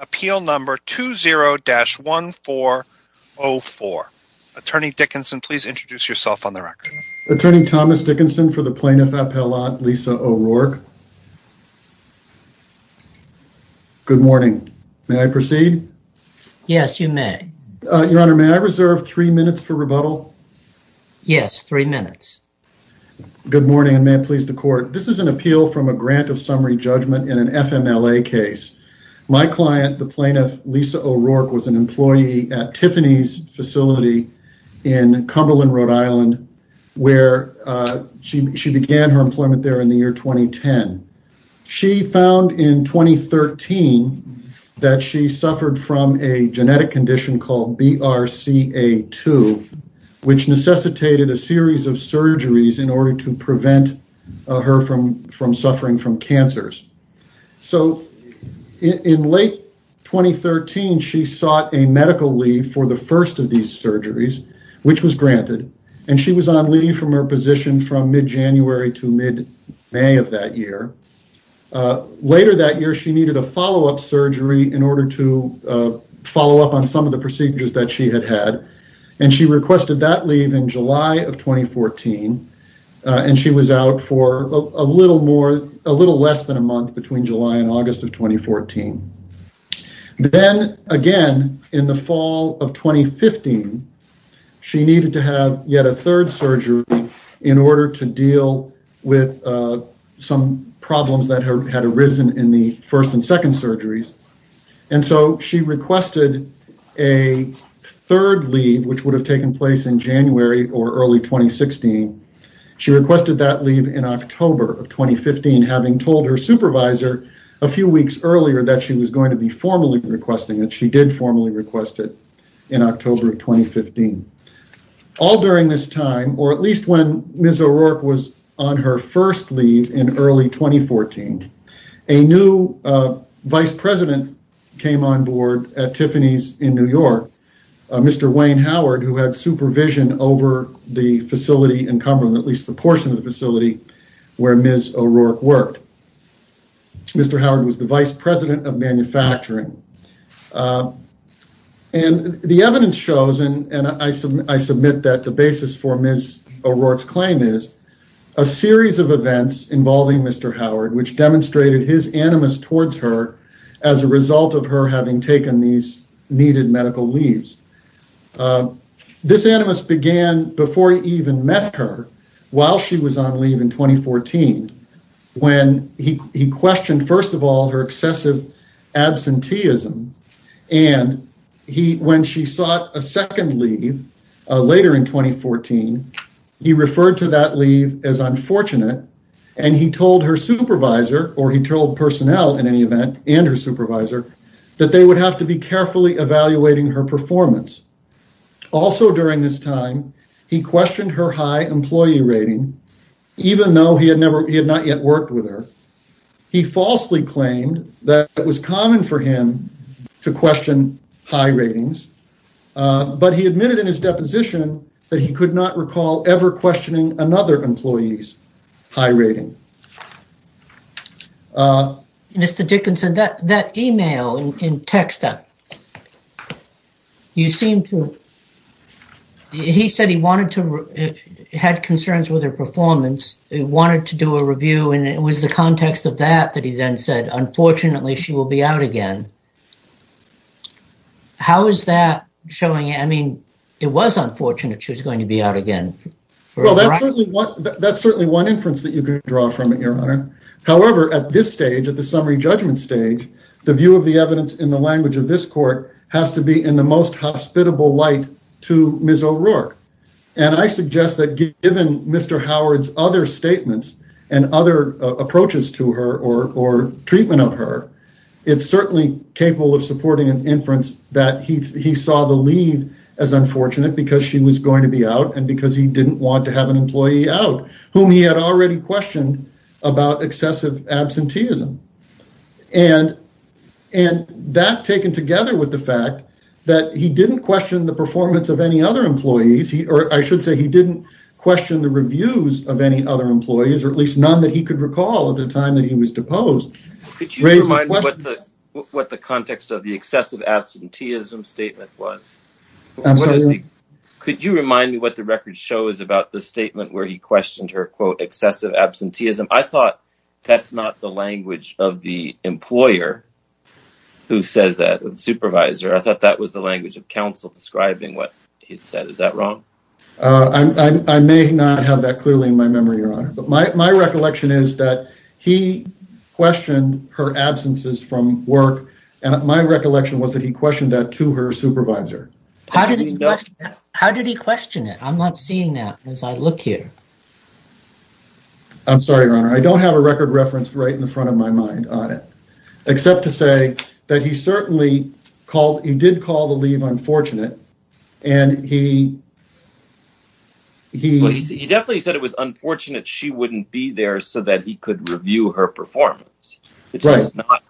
Appeal Number 20-1404 Attorney Dickinson, please introduce yourself on the record. Attorney Thomas Dickinson for the Plaintiff Appellate Lisa O'Rourke. Good morning. May I proceed? Yes, you may. Your Honor, may I reserve three minutes for rebuttal? Yes, three minutes. Good morning and may it please the Court. This is an appeal from a grant of summary judgment in an FMLA case. My client, the Plaintiff Lisa O'Rourke, was an employee at Tiffany's facility in Cumberland, Rhode Island, where she began her employment there in the year 2010. She found in 2013 that she suffered from a genetic condition called BRCA2, which necessitated a series of surgeries in order to prevent her from suffering from cancers. In late 2013, she sought a medical leave for the first of these surgeries, which was granted. She was on leave from her position from mid-January to mid-May of that year. Later that year, she needed a follow-up surgery in order to follow up on some of the procedures that she had had. She requested that leave in July of 2014. She was out for a little less than a month between July and August of 2014. Then, again, in the fall of 2015, she needed to have yet a third surgery in order to deal with some problems that had arisen in the first and second surgeries. She requested a third leave, which would have taken place in January or early 2016. She requested that leave in October of 2015, having told her supervisor a few weeks earlier that she was going to be formally requesting it. She did formally request it in October of 2015. All during this time, or at least when Ms. O'Rourke was on her first leave in early 2014, a new vice president came on board at Tiffany's in New York, Mr. Wayne Howard, who had supervision over the facility in Cumberland, at least the portion of the facility where Ms. O'Rourke worked. Mr. Howard was the vice president of manufacturing. The evidence shows, and I submit that the basis for Ms. O'Rourke's claim is, a series of events involving Mr. Howard, which demonstrated his animus towards her as a result of her having taken these needed medical leaves. This animus began before he even met her, while she was on leave in 2014, when he questioned, first of all, her excessive absenteeism, and when she sought a second leave later in 2014, he referred to that leave as unfortunate, and he told her supervisor, or he told personnel, in any event, and her supervisor, that they would have to be carefully evaluating her performance. Also during this time, he questioned her high employee rating, even though he had not yet worked with her. He falsely claimed that it was common for him to question high ratings, but he admitted in his deposition that he could not recall ever questioning another employee's high rating. Mr. Dickinson, that email in Texta, he said he had concerns with her performance, he wanted to do a review, and it was the context of that that he then said, unfortunately, she will be out again. How is that showing, I mean, it was unfortunate she was going to be out again. Well, that's certainly one inference that you can draw from it, your honor. However, at this stage, at the summary judgment stage, the view of the evidence in the language of this court has to be in the most hospitable light to Ms. O'Rourke, and I suggest that given Mr. Howard's other statements and other approaches to her or treatment of her, it's certainly capable of supporting an inference that he saw the leave as unfortunate because she was going to be out and because he didn't want to have an employee out, whom he had already questioned about excessive absenteeism. And that, taken together with the fact that he didn't question the performance of any other employees, or I should say he didn't question the reviews of any other employees, or at least none that he could recall at the time that he was deposed, Could you remind me what the context of the excessive absenteeism statement was? Absolutely. Could you remind me what the record shows about the statement where he questioned her, quote, excessive absenteeism? I thought that's not the language of the employer who says that, the supervisor. I thought that was the language of counsel describing what he said. Is that wrong? My recollection is that he questioned her absences from work, and my recollection was that he questioned that to her supervisor. How did he question that? I'm not seeing that as I look here. I'm sorry, Your Honor, I don't have a record reference right in front of my mind on it, except to say that he certainly called, he did call the leave unfortunate, and he... He definitely said it was unfortunate she wouldn't be there so that he could review her performance. Right. It's just not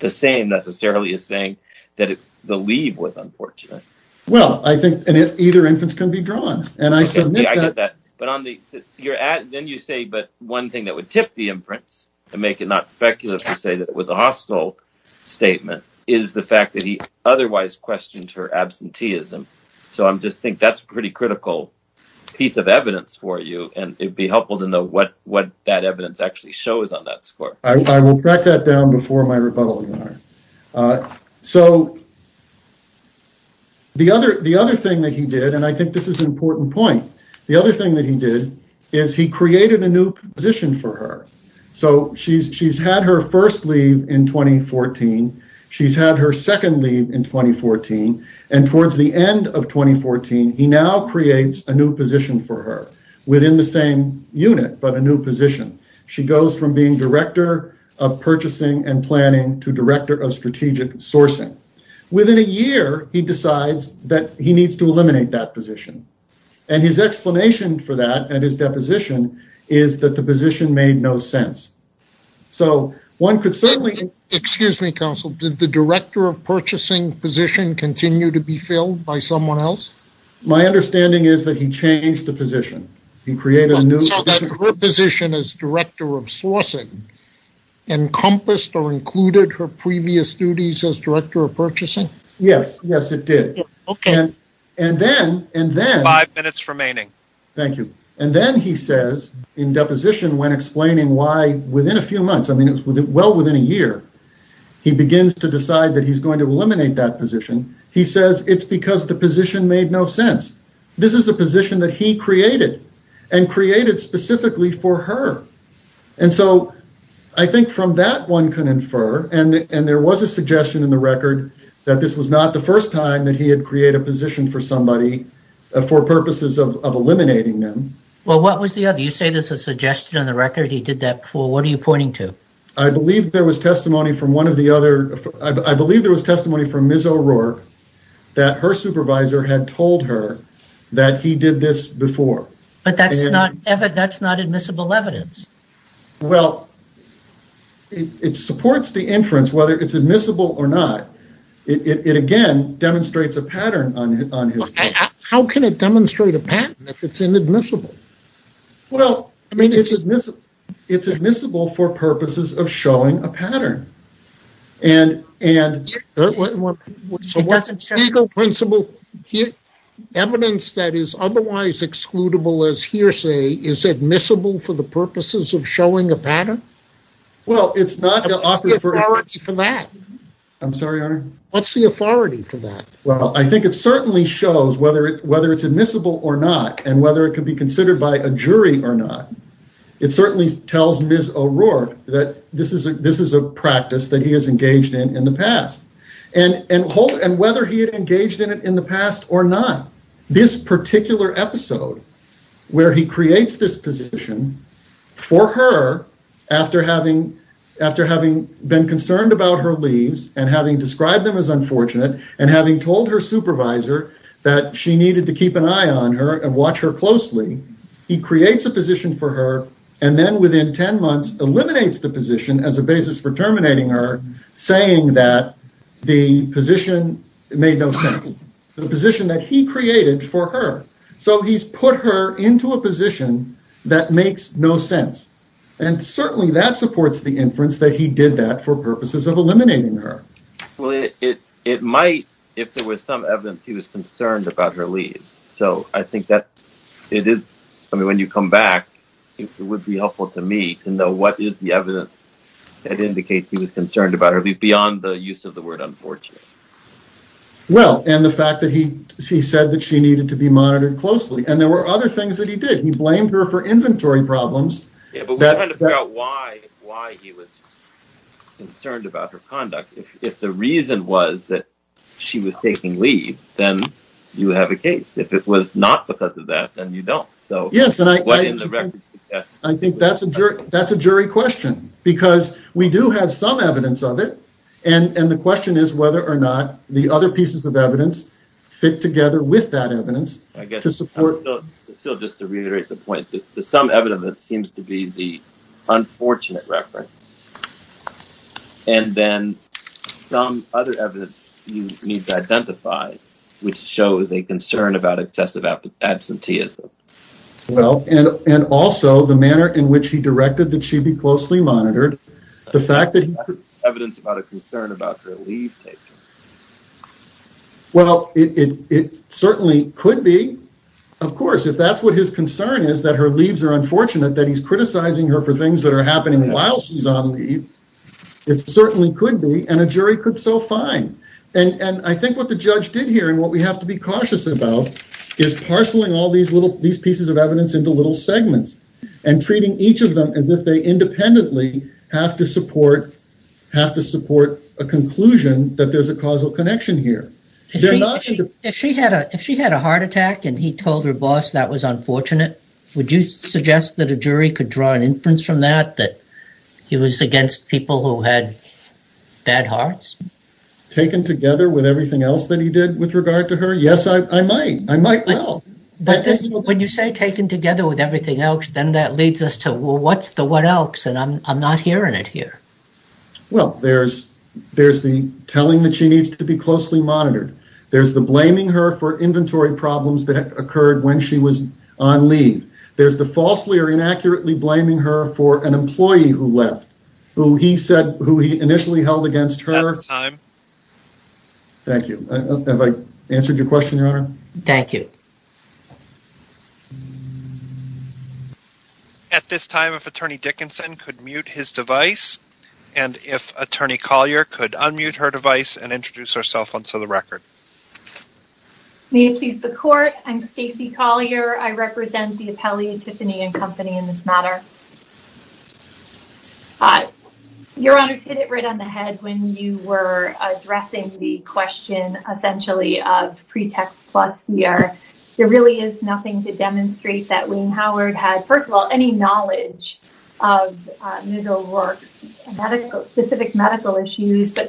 the same, necessarily, as saying that the leave was unfortunate. Well, I think either inference can be drawn, and I submit that... Okay, I get that, but then you say, but one thing that would tip the inference, and make it not speculative to say that it was a hostile statement, is the fact that he otherwise questioned her absenteeism. I just think that's a pretty critical piece of evidence for you, and it would be helpful to know what that evidence actually shows on that score. I will track that down before my rebuttal, Your Honor. The other thing that he did, and I think this is an important point, the other thing that he did is he created a new position for her. She's had her first leave in 2014. She's had her second leave in 2014, and towards the end of 2014 he now creates a new position for her within the same unit, but a new position. She goes from being Director of Purchasing and Planning to Director of Strategic Sourcing. Within a year, he decides that he needs to eliminate that position, and his explanation for that and his deposition is that the position made no sense. So one could certainly... My understanding is that he changed the position. So that her position as Director of Sourcing encompassed or included her previous duties as Director of Purchasing? Yes, yes, it did. Okay. Five minutes remaining. Thank you. And then he says in deposition when explaining why within a few months, well within a year, he begins to decide that he's going to eliminate that position. He says it's because the position made no sense. This is a position that he created and created specifically for her. And so I think from that one can infer, and there was a suggestion in the record, that this was not the first time that he had created a position for somebody for purposes of eliminating them. Well, what was the other? You say there's a suggestion in the record he did that for. What are you pointing to? I believe there was testimony from one of the other. I believe there was testimony from Ms. O'Rourke that her supervisor had told her that he did this before. But that's not admissible evidence. Well, it supports the inference whether it's admissible or not. It, again, demonstrates a pattern on his case. How can it demonstrate a pattern if it's inadmissible? Well, it's admissible for purposes of showing a pattern. So what's legal principle evidence that is otherwise excludable as hearsay is admissible for the purposes of showing a pattern? What's the authority for that? I'm sorry, Your Honor? What's the authority for that? Well, I think it certainly shows whether it's admissible or not and whether it can be considered by a jury or not. It certainly tells Ms. O'Rourke that this is a practice that he has engaged in in the past. And whether he had engaged in it in the past or not, this particular episode where he creates this position for her after having been concerned about her leaves and having described them as unfortunate and having told her supervisor that she needed to keep an eye on her and watch her closely, he creates a position for her and then within 10 months eliminates the position as a basis for terminating her, saying that the position made no sense. The position that he created for her. So he's put her into a position that makes no sense. And certainly that supports the inference that he did that for purposes of eliminating her. Well, it might if there was some evidence he was concerned about her leaves. So I think that it is. I mean, when you come back, it would be helpful to me to know what is the evidence that indicates he was concerned about her leave beyond the use of the word unfortunate. Well, and the fact that he said that she needed to be monitored closely and there were other things that he did. He blamed her for inventory problems. Yeah, but we're trying to figure out why he was concerned about her conduct. If the reason was that she was taking leave, then you have a case. If it was not because of that, then you don't. Yes, and I think that's a jury question because we do have some evidence of it. And the question is whether or not the other pieces of evidence fit together with that evidence to support. So just to reiterate the point, there's some evidence that seems to be the unfortunate reference. And then some other evidence you need to identify, which shows a concern about excessive absenteeism. Well, and and also the manner in which he directed that she be closely monitored. The fact that evidence about a concern about her leave. Well, it certainly could be, of course, if that's what his concern is, that her leaves are unfortunate, that he's criticizing her for things that are happening while she's on leave. It certainly could be and a jury could so fine. And I think what the judge did here and what we have to be cautious about is parceling all these little these pieces of evidence into little segments. And treating each of them as if they independently have to support, have to support a conclusion that there's a causal connection here. If she had a if she had a heart attack and he told her boss that was unfortunate, would you suggest that a jury could draw an inference from that that he was against people who had bad hearts taken together with everything else that he did with regard to her? Yes, I might. I might. But when you say taken together with everything else, then that leads us to what's the what else? And I'm not hearing it here. Well, there's there's the telling that she needs to be closely monitored. There's the blaming her for inventory problems that occurred when she was on leave. There's the falsely or inaccurately blaming her for an employee who left who he said who he initially held against her time. Thank you. Have I answered your question, Your Honor? Thank you. At this time, if Attorney Dickinson could mute his device and if Attorney Collier could unmute her device and introduce herself onto the record. May it please the court. I'm Stacey Collier. I represent the appellate Tiffany and Company in this matter. Your Honor's hit it right on the head when you were addressing the question, essentially, of pretext. Plus, we are there really is nothing to demonstrate that Wayne Howard had, first of all, any knowledge of middle works, medical specific medical issues. But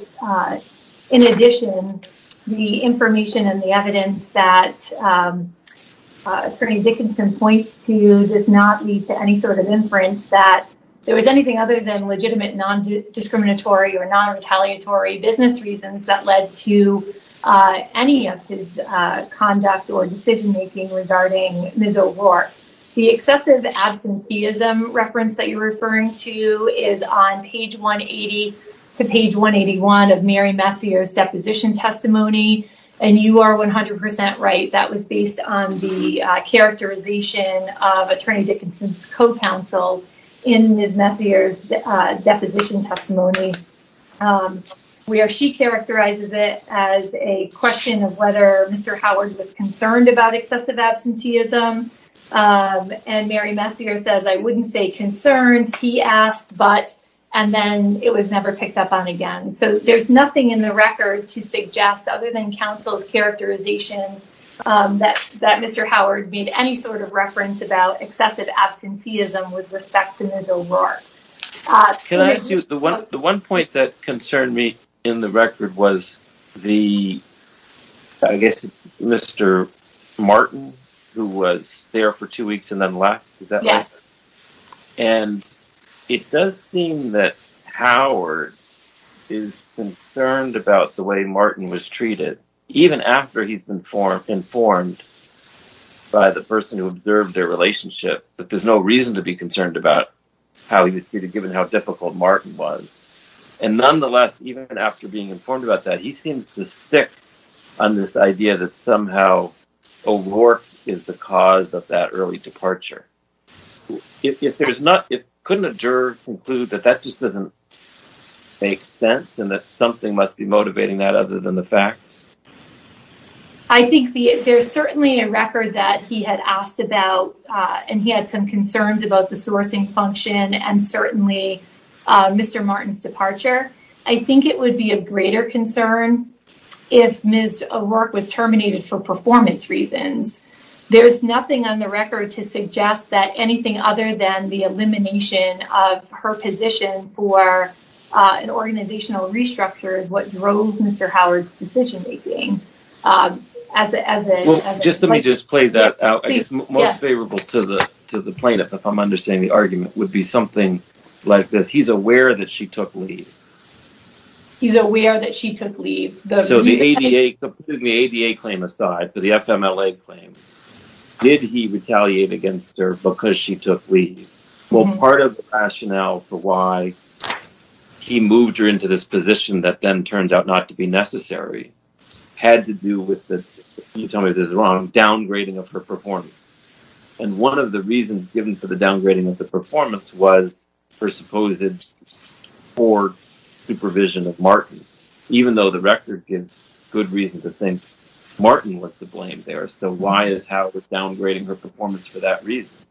in addition, the information and the evidence that Dickinson points to does not lead to any sort of inference that there was anything other than legitimate, non discriminatory or non retaliatory business reasons that led to any of his conduct or decision making regarding Miss O'Rourke. The excessive absenteeism reference that you're referring to is on page 180 to page 181 of Mary Messier's deposition testimony. And you are 100 percent right. That was based on the characterization of Attorney Dickinson's co-counsel in Miss Messier's deposition testimony where she characterizes it as a question of whether Mr. Howard was concerned about excessive absenteeism. And Mary Messier says, I wouldn't say concerned. He asked, but and then it was never picked up on again. So there's nothing in the record to suggest other than counsel's characterization that that Mr. Howard made any sort of reference about excessive absenteeism with respect to Miss O'Rourke. Can I ask you the one the one point that concerned me in the record was the I guess Mr. Martin, who was there for two weeks and then left. And it does seem that Howard is concerned about the way Martin was treated, even after he's been informed, informed by the person who observed their relationship. But there's no reason to be concerned about how he was treated, given how difficult Martin was. And nonetheless, even after being informed about that, he seems to stick on this idea that somehow O'Rourke is the cause of that early departure. If there's not it, couldn't a juror conclude that that just doesn't make sense and that something must be motivating that other than the facts? I think there's certainly a record that he had asked about and he had some concerns about the sourcing function and certainly Mr. Martin's departure. I think it would be of greater concern if Miss O'Rourke was terminated for performance reasons. There's nothing on the record to suggest that anything other than the elimination of her position for an organizational restructure is what drove Mr. Howard's decision-making. Just let me just play that out. I guess most favorable to the to the plaintiff, if I'm understanding the argument, would be something like this. He's aware that she took leave. He's aware that she took leave. So the ADA claim aside for the FMLA claim, did he retaliate against her because she took leave? Well, part of the rationale for why he moved her into this position that then turns out not to be necessary had to do with the downgrading of her performance. And one of the reasons given for the downgrading of the performance was her supposed poor supervision of Martin, even though the record gives good reason to think Martin was to blame there. So why is Howard downgrading her performance for that reason?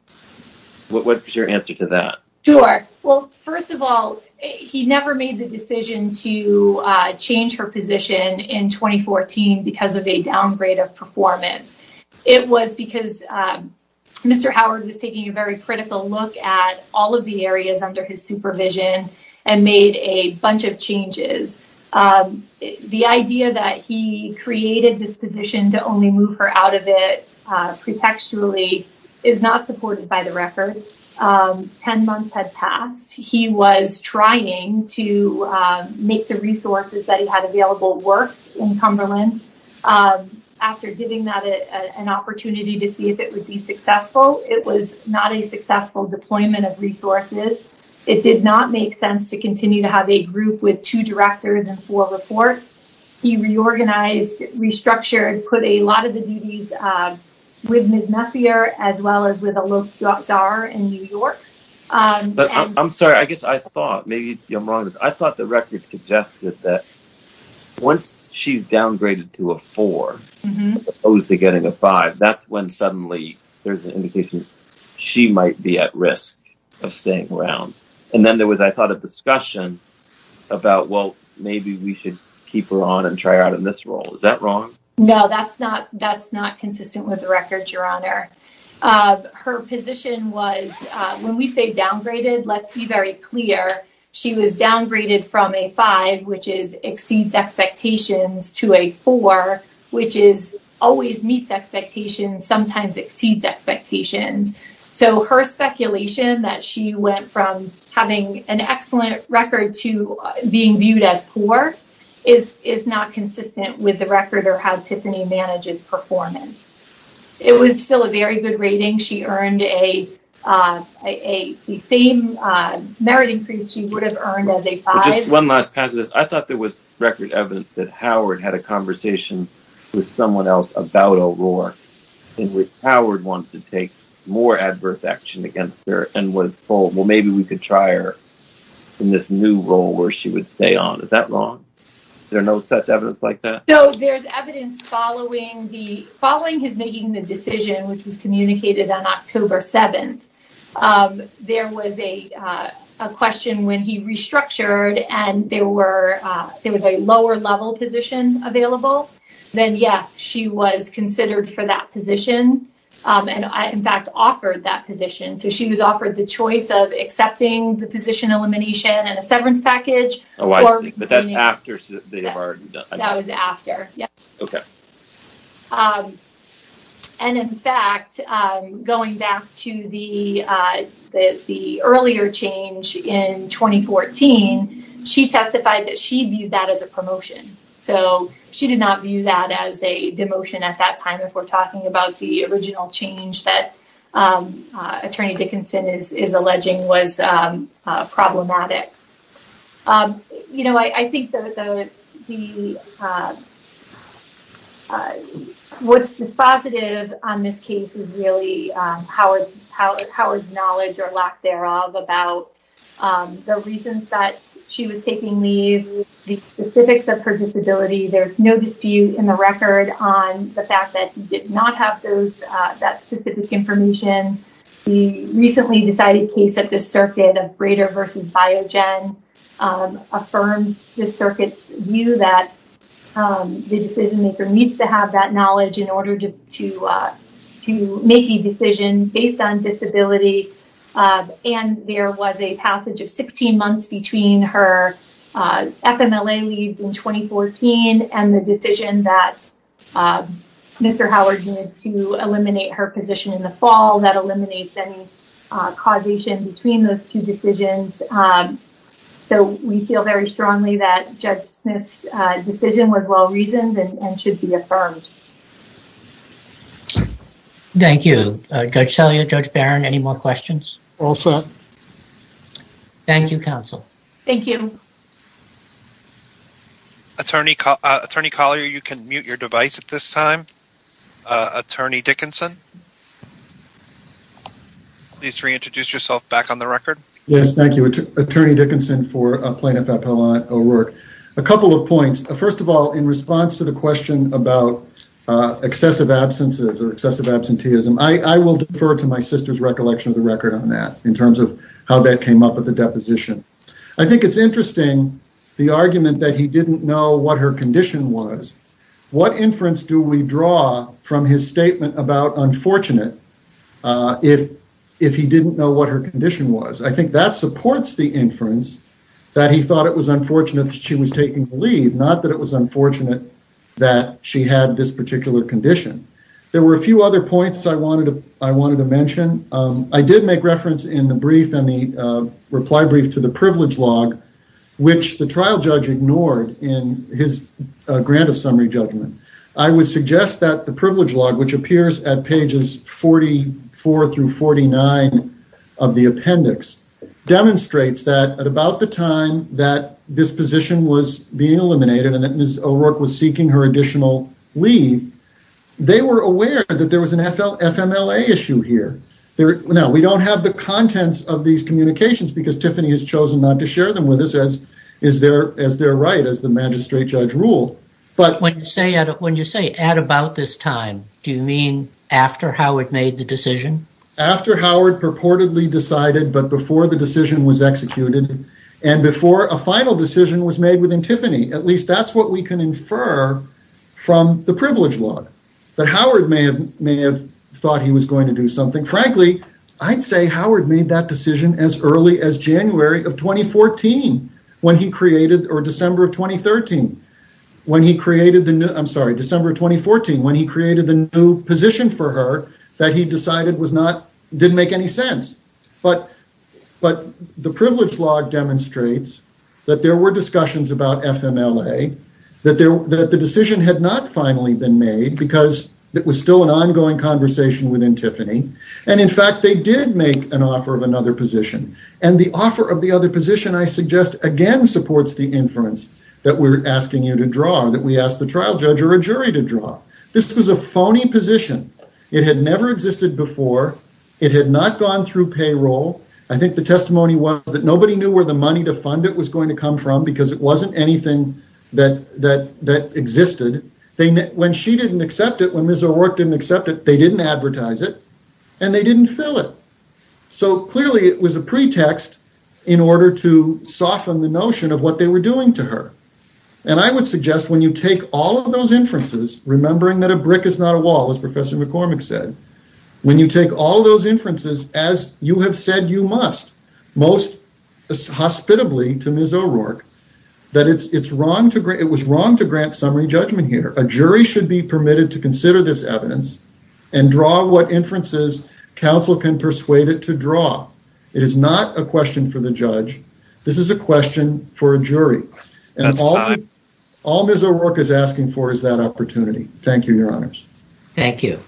What's your answer to that? Sure. Well, first of all, he never made the decision to change her position in 2014 because of a downgrade of performance. It was because Mr. Howard was taking a very critical look at all of the areas under his supervision and made a bunch of changes. The idea that he created this position to only move her out of it pretextually is not supported by the record. Ten months had passed. He was trying to make the resources that he had available work in Cumberland. After giving that an opportunity to see if it would be successful, it was not a successful deployment of resources. It did not make sense to continue to have a group with two directors and four reports. He reorganized, restructured, and put a lot of the duties with Ms. Messier as well as with Alok Dhar in New York. I'm sorry. I thought the record suggested that once she's downgraded to a four, opposed to getting a five, that's when suddenly there's an indication she might be at risk of staying around. And then there was, I thought, a discussion about, well, maybe we should keep her on and try her out in this role. Is that wrong? No, that's not consistent with the record, Your Honor. Her position was, when we say downgraded, let's be very clear. She was downgraded from a five, which exceeds expectations, to a four, which always meets expectations, sometimes exceeds expectations. So her speculation that she went from having an excellent record to being viewed as poor is not consistent with the record or how Tiffany manages performance. It was still a very good rating. She earned the same merit increase she would have earned as a five. Just one last pass at this. I thought there was record evidence that Howard had a conversation with someone else about Aurora in which Howard wants to take more adverse action against her and was told, well, maybe we could try her in this new role where she would stay on. Is that wrong? There's no such evidence like that? So there's evidence following his making the decision, which was communicated on October 7th. There was a question when he restructured, and there was a lower-level position available. Then, yes, she was considered for that position and, in fact, offered that position. So she was offered the choice of accepting the position elimination and a severance package. Oh, I see. But that's after they've already done it. That was after, yes. Okay. And, in fact, going back to the earlier change in 2014, she testified that she viewed that as a promotion. So she did not view that as a demotion at that time if we're talking about the original change that Attorney Dickinson is alleging was problematic. You know, I think what's dispositive on this case is really Howard's knowledge or lack thereof about the reasons that she was taking leave, the specifics of her disability. There's no dispute in the record on the fact that he did not have that specific information. The recently decided case at the circuit of Brader v. Biogen affirms the circuit's view that the decision-maker needs to have that knowledge in order to make a decision based on disability. And there was a passage of 16 months between her FMLA leaves in 2014 and the decision that Mr. Howard made to eliminate her position in the fall that eliminates any causation between those two decisions. So we feel very strongly that Judge Smith's decision was well-reasoned and should be affirmed. Thank you. Judge Sellier, Judge Barron, any more questions? All set. Thank you, counsel. Thank you. Attorney Collier, you can mute your device at this time. Attorney Dickinson, please reintroduce yourself back on the record. Yes, thank you. Attorney Dickinson for Plaintiff Appellate O'Rourke. A couple of points. First of all, in response to the question about excessive absences or excessive absenteeism, I will defer to my sister's recollection of the record on that in terms of how that came up with the deposition. I think it's interesting the argument that he didn't know what her condition was. What inference do we draw from his statement about unfortunate if he didn't know what her condition was? I think that supports the inference that he thought it was unfortunate that she was taking the leave, not that it was unfortunate that she had this particular condition. There were a few other points I wanted to mention. I did make reference in the brief and the reply brief to the privilege log, which the trial judge ignored in his grant of summary judgment. I would suggest that the privilege log, which appears at pages 44 through 49 of the appendix, demonstrates that at about the time that this position was being eliminated and that Ms. O'Rourke was seeking her additional leave, they were aware that there was an FMLA issue here. Now, we don't have the contents of these communications because Tiffany has chosen not to share them with us as their right, as the magistrate judge ruled. When you say at about this time, do you mean after Howard made the decision? After Howard purportedly decided, but before the decision was executed and before a final decision was made within Tiffany. At least that's what we can infer from the privilege log. Howard may have thought he was going to do something. Frankly, I'd say Howard made that decision as early as December of 2014 when he created the new position for her that he decided didn't make any sense. The privilege log demonstrates that there were discussions about FMLA, that the decision had not finally been made because it was still an ongoing conversation within Tiffany. In fact, they did make an offer of another position. The offer of the other position, I suggest, again supports the inference that we're asking you to draw, that we asked the trial judge or a jury to draw. This was a phony position. It had never existed before. It had not gone through payroll. I think the testimony was that nobody knew where the money to fund it was going to come from because it wasn't anything that existed. When she didn't accept it, when Ms. O'Rourke didn't accept it, they didn't advertise it, and they didn't fill it. Clearly, it was a pretext in order to soften the notion of what they were doing to her. I would suggest when you take all of those inferences, remembering that a brick is not a wall, as Professor McCormick said, when you take all those inferences, as you have said you must, most hospitably to Ms. O'Rourke, that it was wrong to grant summary judgment here. A jury should be permitted to consider this evidence and draw what inferences counsel can persuade it to draw. It is not a question for the judge. All Ms. O'Rourke is asking for is that opportunity. Thank you, Your Honors. Thank you.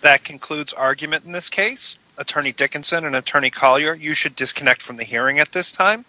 That concludes argument in this case. Attorney Dickinson and Attorney Collier, you should disconnect from the hearing at this time.